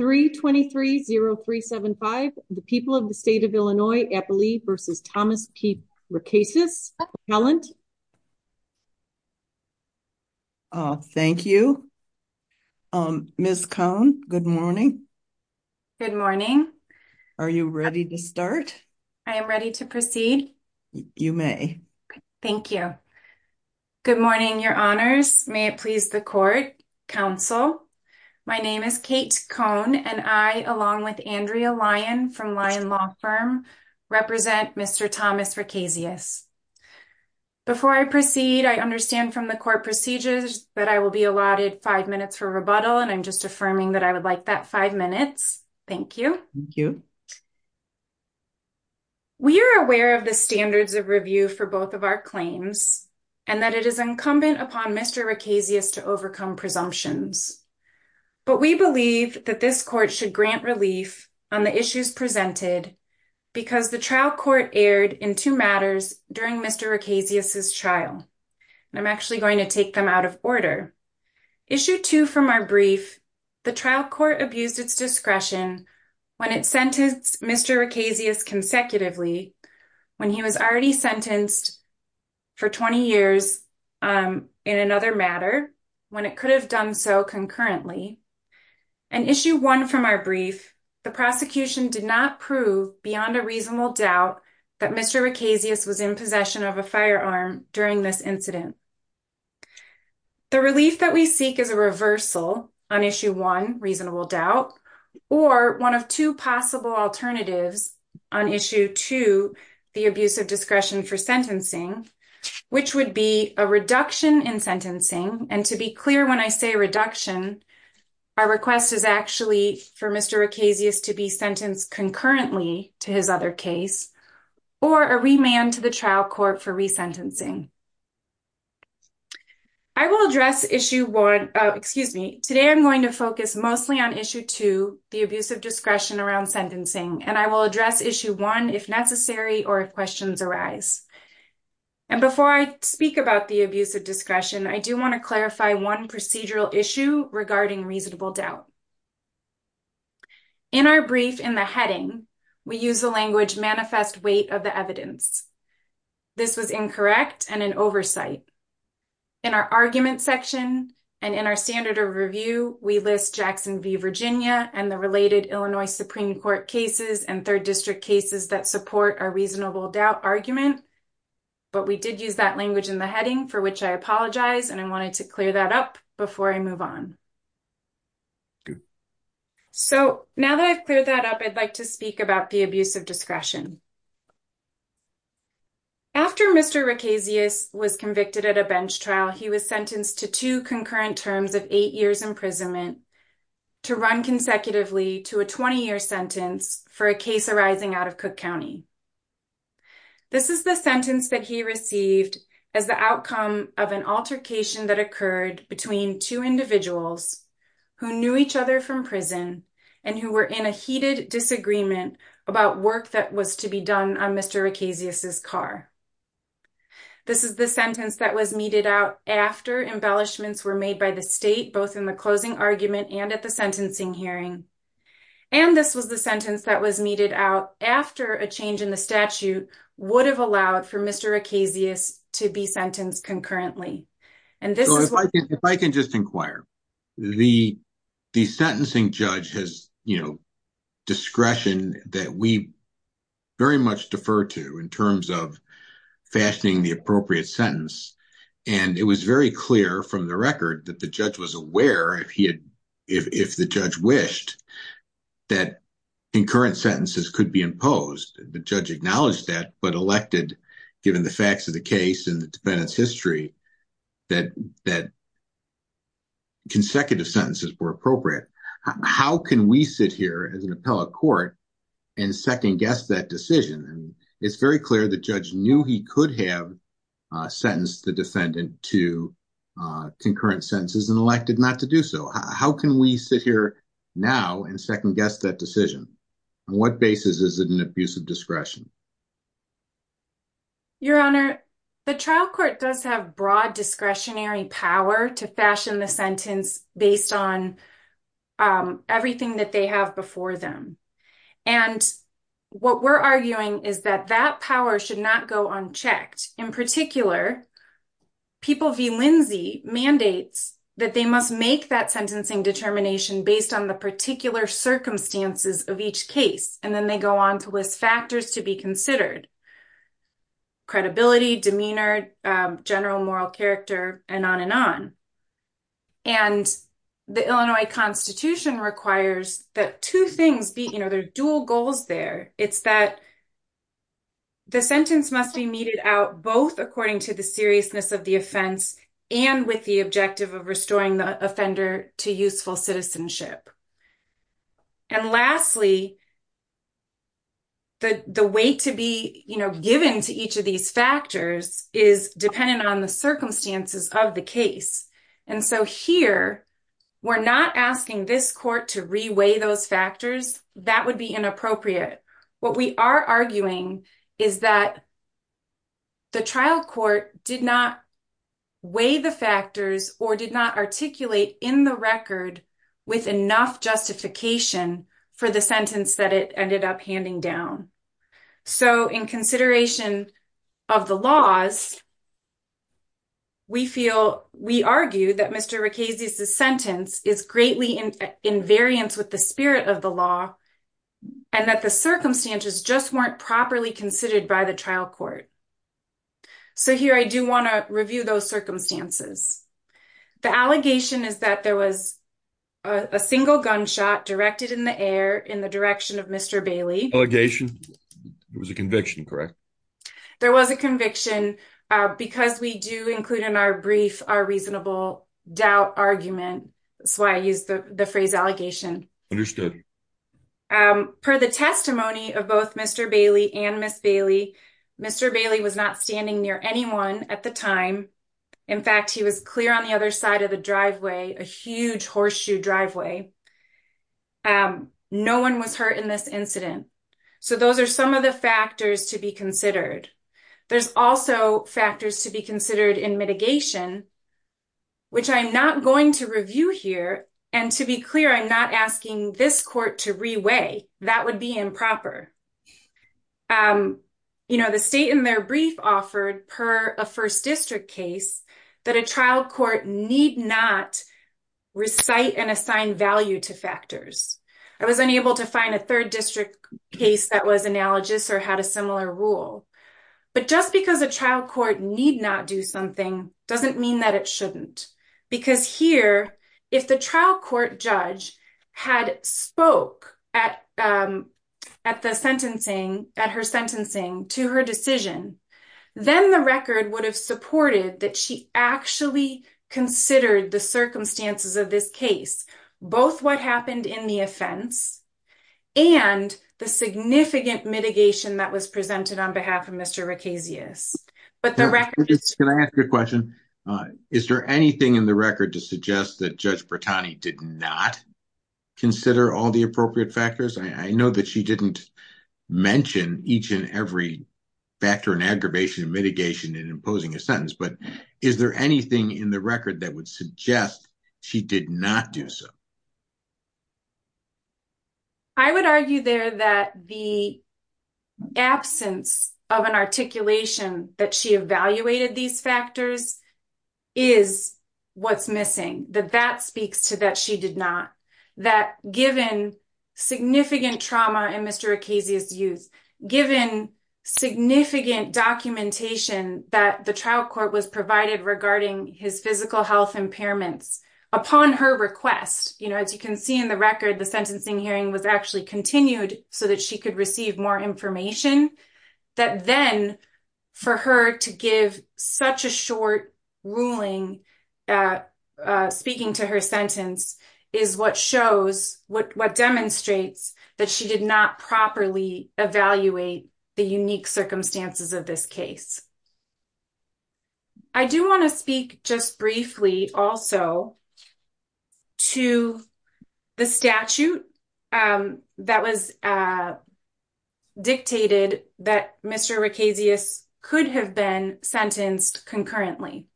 3230375, the people of the state of Illinois, Eppley v. Thomas P. Rekasius. Thank you. Ms. Cohn, good morning. Good morning. Are you ready to start? I am ready to proceed. You may. Thank you. Good morning, your honors. May it please the court, counsel. My name is Kate Cohn, and I, along with Andrea Lyon from Lyon Law Firm, represent Mr. Thomas Rekasius. Before I proceed, I understand from the court procedures that I will be allotted five minutes for rebuttal, and I'm just affirming that I would like that five minutes. Thank you. Thank you. We are aware of the standards of review for both of our claims and that it is incumbent upon Mr. Rekasius to overcome presumptions, but we believe that this court should grant relief on the issues presented because the trial court erred in two matters during Mr. Rekasius's trial, and I'm actually going to take them out of order. Issue two from our brief, the trial court abused its discretion when it sentenced Mr. Rekasius consecutively when he was already sentenced for 20 years in another matter, when it could have done so concurrently. In issue one from our brief, the prosecution did not prove beyond a reasonable doubt that Mr. Rekasius was in possession of a firearm during this incident. The relief that we seek is a reversal on issue one, reasonable doubt, or one of two possible alternatives on issue two, the abuse of discretion for sentencing, which would be a reduction in sentencing, and to be clear when I say reduction, our request is actually for Mr. Rekasius to be sentenced concurrently to his other case, or a remand to the trial court for resentencing. I will address issue one, excuse me, today I'm going to focus mostly on issue two, the abuse of discretion around sentencing, and I will address issue one if necessary or if questions arise. And before I speak about the abuse of discretion, I do want to clarify one procedural issue regarding reasonable doubt. In our brief in the heading, we use the language manifest weight of the evidence. This was incorrect and an oversight. In our argument section and in our standard of review, we list Jackson v. Virginia and the related Illinois Supreme Court cases and third district cases that support our reasonable doubt argument. But we did use that language in the heading, for which I apologize, and I wanted to clear that up before I move on. So now that I've cleared that up, I'd like to speak about the abuse of discretion. After Mr. Rekasius was convicted at a bench trial, he was sentenced to two concurrent terms of eight years imprisonment to run consecutively to a 20-year sentence for a case arising out of Cook County. This is the sentence that he received as the outcome of an altercation that occurred between two individuals who knew each other from prison and who were in a heated disagreement about work that was to be done on Mr. Rekasius's car. This is the sentence that was meted out after embellishments were made by the state, both in the closing argument and at the sentencing hearing. And this was the sentence that was meted out after a change in the statute would have allowed for Mr. Rekasius to be sentenced concurrently. So if I can just inquire, the sentencing judge has, you know, discretion that we very much defer to in terms of fashioning the appropriate sentence. And it was very clear from the record that the judge was aware, if the judge wished, that concurrent sentences could be imposed. The judge acknowledged that but elected, given the facts of the case and the defendant's history, that consecutive sentences were appropriate. How can we sit here as an appellate court and second-guess that decision? And it's very clear the judge knew he could have sentenced the defendant to concurrent sentences and elected not to do so. How can we sit here now and second-guess that decision? On what basis is it an abuse of discretion? Your Honor, the trial court does have broad discretionary power to fashion the sentence based on everything that they have before them. And what we're arguing is that that power should not go unchecked. In particular, People v. Lindsay mandates that they must make that sentencing determination based on the particular circumstances of each case. And then they go on to list factors to be considered. Credibility, demeanor, general moral character, and on and on. And the Illinois Constitution requires that two things be, you know, there are dual goals there. It's that the sentence must be meted out both according to the seriousness of the offense and with the objective of restoring the offender to useful citizenship. And lastly, the weight to be, you know, given to each of these factors is dependent on the circumstances of the case. And so here, we're not asking this court to re-weigh those factors. That would be inappropriate. What we are arguing is that the trial court did not weigh the factors or did not articulate in the record with enough justification for the sentence that it ended up handing down. So, in consideration of the laws, we feel, we argue that Mr. Rickesey's sentence is greatly in variance with the spirit of the law and that the circumstances just weren't properly considered by the trial court. So here, I do want to review those circumstances. The allegation is that there was a single gunshot directed in the air in the direction of Mr. Bailey. Allegation? It was a conviction, correct? There was a conviction because we do include in our brief our reasonable doubt argument. That's why I use the phrase allegation. Understood. Per the testimony of Mr. Bailey and Ms. Bailey, Mr. Bailey was not standing near anyone at the time. In fact, he was clear on the other side of the driveway, a huge horseshoe driveway. No one was hurt in this incident. So those are some of the factors to be considered. There's also factors to be considered in mitigation, which I'm not going to review here. And to be clear, I'm not asking this court to re-weigh. That would be improper. The state in their brief offered per a first district case that a trial court need not recite and assign value to factors. I was unable to find a third district case that was analogous or had a similar rule. But just because a trial court need not do something doesn't mean that shouldn't. Because here, if the trial court judge had spoke at her sentencing to her decision, then the record would have supported that she actually considered the circumstances of this case. Both what happened in the offense and the significant mitigation that was presented on anything in the record to suggest that Judge Bertani did not consider all the appropriate factors? I know that she didn't mention each and every factor in aggravation and mitigation in imposing a sentence, but is there anything in the record that would suggest she did not do so? I would argue there that the absence of an articulation that she evaluated these factors is what's missing. That that speaks to that she did not. That given significant trauma in Mr. Ocasio's use, given significant documentation that the trial court was provided regarding his physical health impairments, upon her request, as you can see in the record, the sentencing hearing was actually continued so that she could receive more information. That then, for her to give such a short ruling speaking to her sentence is what shows, what demonstrates that she did not properly evaluate the unique circumstances of this case. I do want to speak just briefly also to the statute that was dictated that Mr. Ocasio's could have been sentenced concurrently.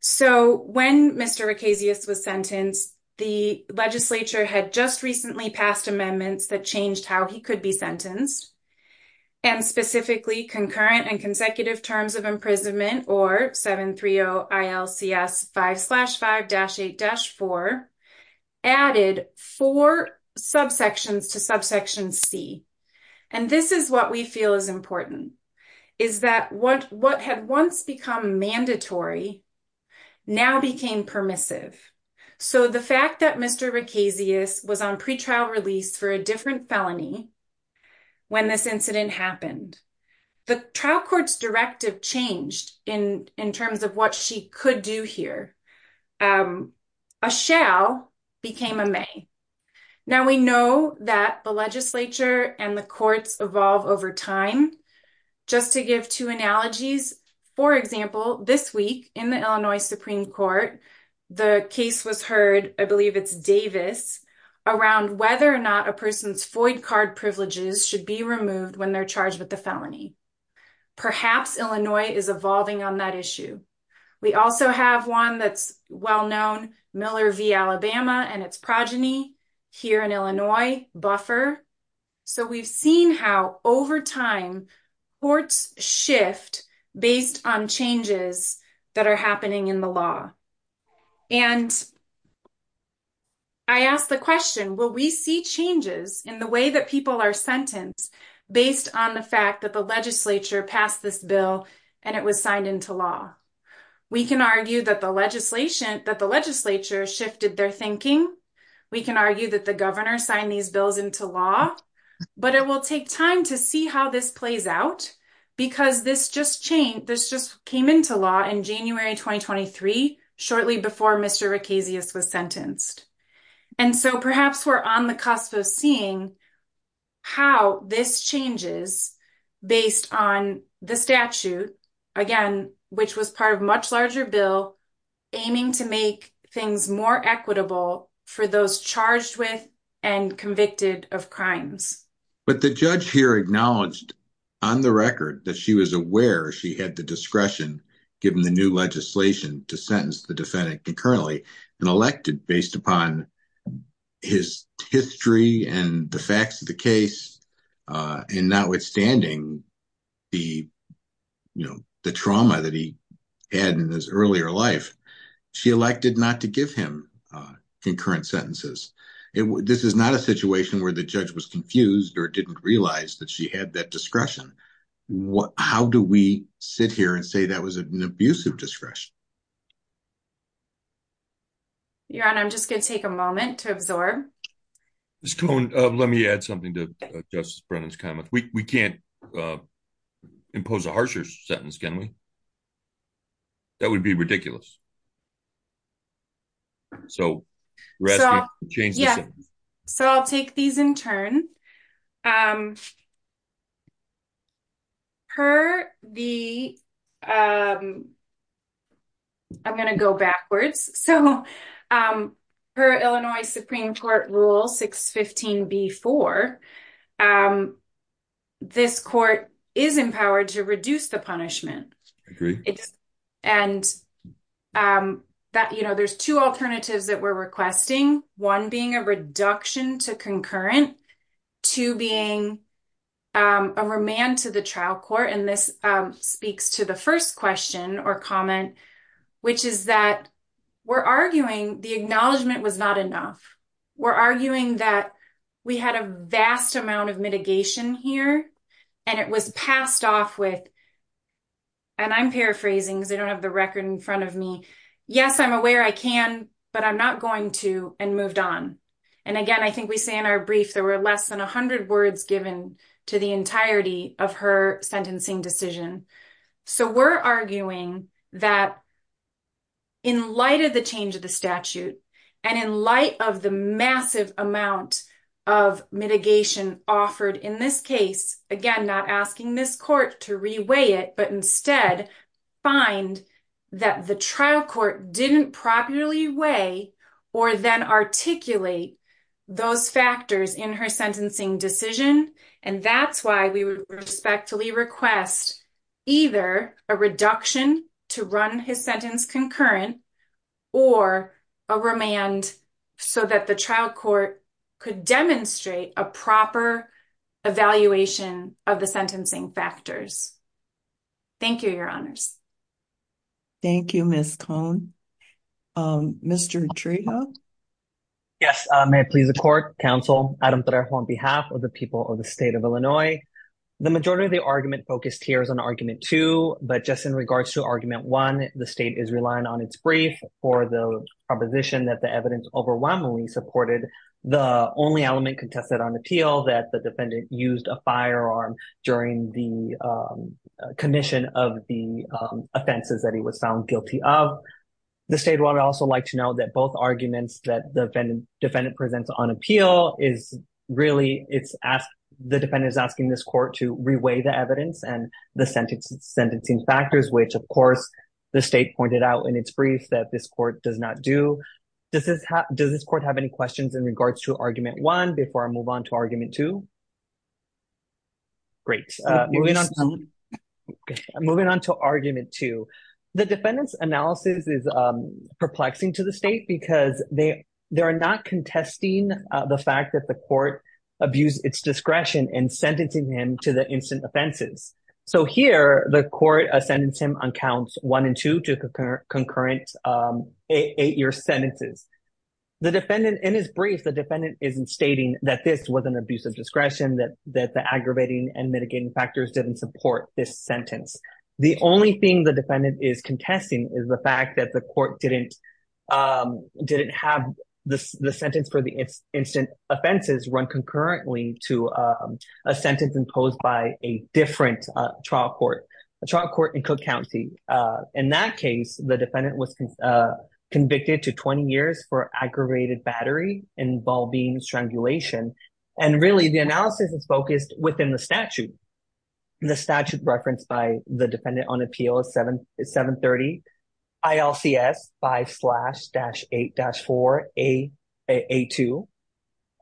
So, when Mr. Ocasio's was sentenced, the legislature had just recently passed amendments that changed how he could be of imprisonment or 730 ILCS 5-5-8-4, added four subsections to subsection C. This is what we feel is important, is that what had once become mandatory, now became permissive. So, the fact that Mr. Ocasio's was on pretrial release for a different felony, when this incident happened, the trial court's directive changed in terms of what she could do here. A shall became a may. Now, we know that the legislature and the courts evolve over time. Just to give two analogies, for example, this week in the Illinois Supreme Court, the case was heard, I believe it's Davis, around whether or not a person's FOID card privileges should be removed when they're charged with the felony. Perhaps Illinois is evolving on that issue. We also have one that's well known, Miller v. Alabama and its progeny here in Illinois, Buffer. So, we've seen how over time, courts shift based on changes that are happening in the law. And I ask the question, will we see changes in the way that people are sentenced based on the fact that the legislature passed this bill and it was signed into law? We can argue that the legislation, that the legislature shifted their thinking. We can argue that the governor signed these bills into law, but it will take time to see how this plays out because this just changed, in January 2023, shortly before Mr. Rickasius was sentenced. And so, perhaps we're on the cusp of seeing how this changes based on the statute, again, which was part of a much larger bill aiming to make things more equitable for those charged with and convicted of crimes. But the judge here acknowledged on the record that she was aware she had the discretion, given the new legislation, to sentence the defendant concurrently and elected based upon his history and the facts of the case and notwithstanding the trauma that he had in his earlier life, she elected not to give him concurrent sentences. This is not a situation where the judge was confused or didn't realize that she had that discretion. How do we sit here and say that was an abusive discretion? Your Honor, I'm just going to take a moment to absorb. Ms. Cohn, let me add something to Justice Brennan's comments. We can't impose a harsher sentence, can we? That would be ridiculous. So, Rasmus, change the subject. Yeah. So, I'll take these in turn. I'm going to go backwards. So, per Illinois Supreme Court Rule 615B4, this court is empowered to reduce the punishment. I agree. And there's two alternatives that we're requesting, one being a reduction to concurrent, two being a remand to the trial court. And this speaks to the first question or comment, which is that we're arguing the acknowledgement was not enough. We're arguing that we had a vast amount of mitigation here, and it was passed off with, and I'm paraphrasing because I don't have the record in front of me. Yes, I'm aware I can, but I'm not going to and moved on. And again, I think we say in our brief, there were less than 100 words given to the entirety of her sentencing decision. So, we're arguing that in light of the change to the statute, and in light of the massive amount of mitigation offered in this case, again, not asking this court to reweigh it, but instead find that the trial court didn't properly weigh or then articulate those factors in her sentencing decision. And that's why we would respectfully request either a reduction to run his sentence concurrent or a remand so that the trial court could demonstrate a proper evaluation of the sentencing factors. Thank you, Your Honors. Thank you, Ms. Cohn. Mr. Trejo? Yes, may it please the court, counsel, Adam Tarrejo on behalf of the people of the state of The majority of the argument focused here is on argument two, but just in regards to argument one, the state is relying on its brief for the proposition that the evidence overwhelmingly supported the only element contested on appeal that the defendant used a firearm during the condition of the offenses that he was found guilty of. The state would also like to know that both arguments that the defendant presents on appeal is really it's asked, the defendant is asking this court to reweigh the evidence and the sentence sentencing factors, which, of course, the state pointed out in its brief that this court does not do. Does this court have any questions in regards to argument one before I move on to argument two? Great. Moving on to argument two, the defendant's analysis is perplexing to the state because they are not contesting the fact that the court abused its discretion in sentencing him to the instant offenses. So here the court sentenced him on counts one and two to concurrent eight year sentences. The defendant in his brief, the defendant isn't stating that this was an abuse of discretion, that the aggravating and mitigating factors didn't support this sentence. The only thing the defendant is contesting is the court didn't have the sentence for the instant offenses run concurrently to a sentence imposed by a different trial court, a trial court in Cook County. In that case, the defendant was convicted to 20 years for aggravated battery involving strangulation. And really the analysis is focused within the statute. The statute referenced by the dependent on appeal is 730 ILCS 5-8-4 AA2.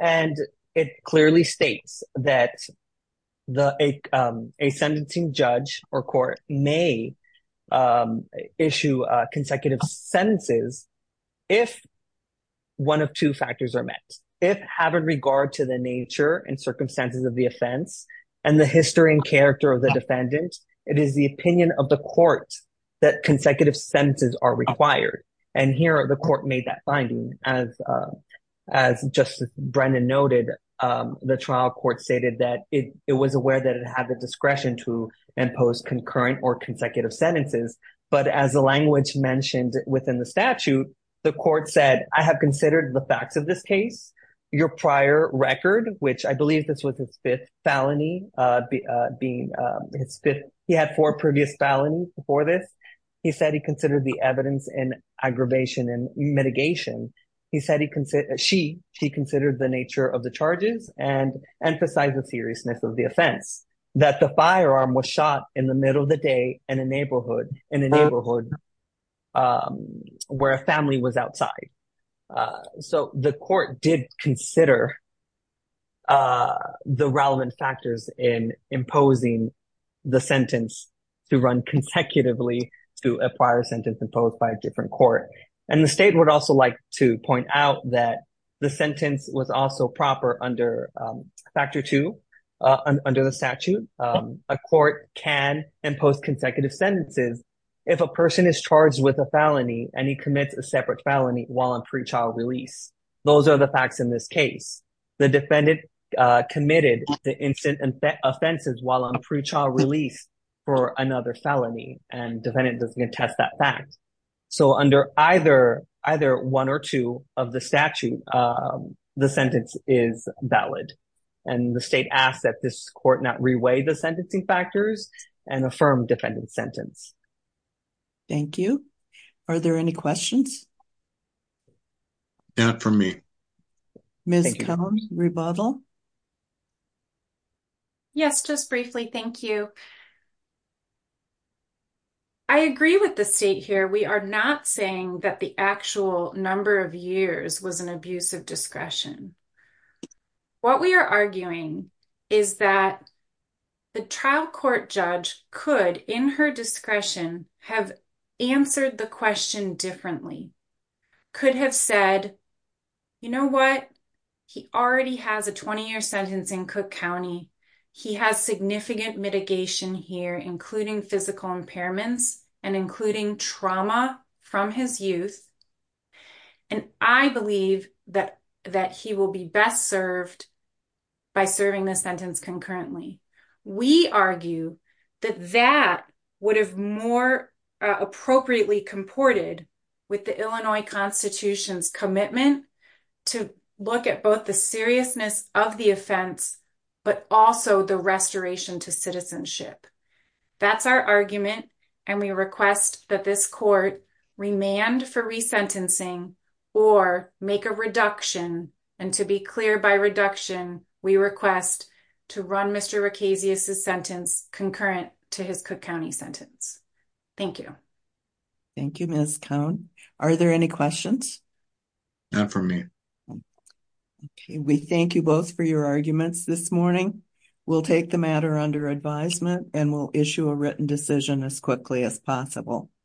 And it clearly states that a sentencing judge or court may issue consecutive sentences if one of two factors are met. If having regard to the nature and circumstances of the offense and the history and character of the defendant, it is the opinion of the court that consecutive sentences are required. And here the court made that finding. As Justice Brennan noted, the trial court stated that it was aware that it had the discretion to impose concurrent or consecutive sentences. But as the language mentioned within the statute, the court said, I have considered the facts of this case, your prior record, which I believe this was his fifth felony. He had four previous felonies before this. He said he considered the evidence in aggravation and mitigation. He said he considered the nature of the charges and emphasized the seriousness of the offense. That the firearm was shot in the middle of the day in a neighborhood where a family was outside. So the court did consider the relevant factors in imposing the sentence to run consecutively to a prior sentence imposed by a different court. And the state would also like to point out that the sentence was also if a person is charged with a felony and he commits a separate felony while in pre-trial release. Those are the facts in this case. The defendant committed the instant offenses while on pre-trial release for another felony and defendant doesn't contest that fact. So under either one or two of the statute, the sentence is valid. And the state asks that this sentence. Thank you. Are there any questions? Not for me. Ms. Cone, rebuttal. Yes, just briefly. Thank you. I agree with the state here. We are not saying that the actual number of years was an abuse of discretion have answered the question differently. Could have said, you know what? He already has a 20-year sentence in Cook County. He has significant mitigation here, including physical impairments and including trauma from his youth. And I believe that he will be best served by serving the sentence concurrently. We argue that that would have more appropriately comported with the Illinois constitution's commitment to look at both the seriousness of the offense, but also the restoration to citizenship. That's our argument. And we request that this court remand for resentencing or make a reduction. And to be clear by reduction, we request to run Mr. Ricasius' sentence concurrent to his Cook County sentence. Thank you. Thank you, Ms. Cone. Are there any questions? Not for me. Okay. We thank you both for your arguments this morning. We'll take the matter under advisement and we'll issue a written decision as quickly as possible.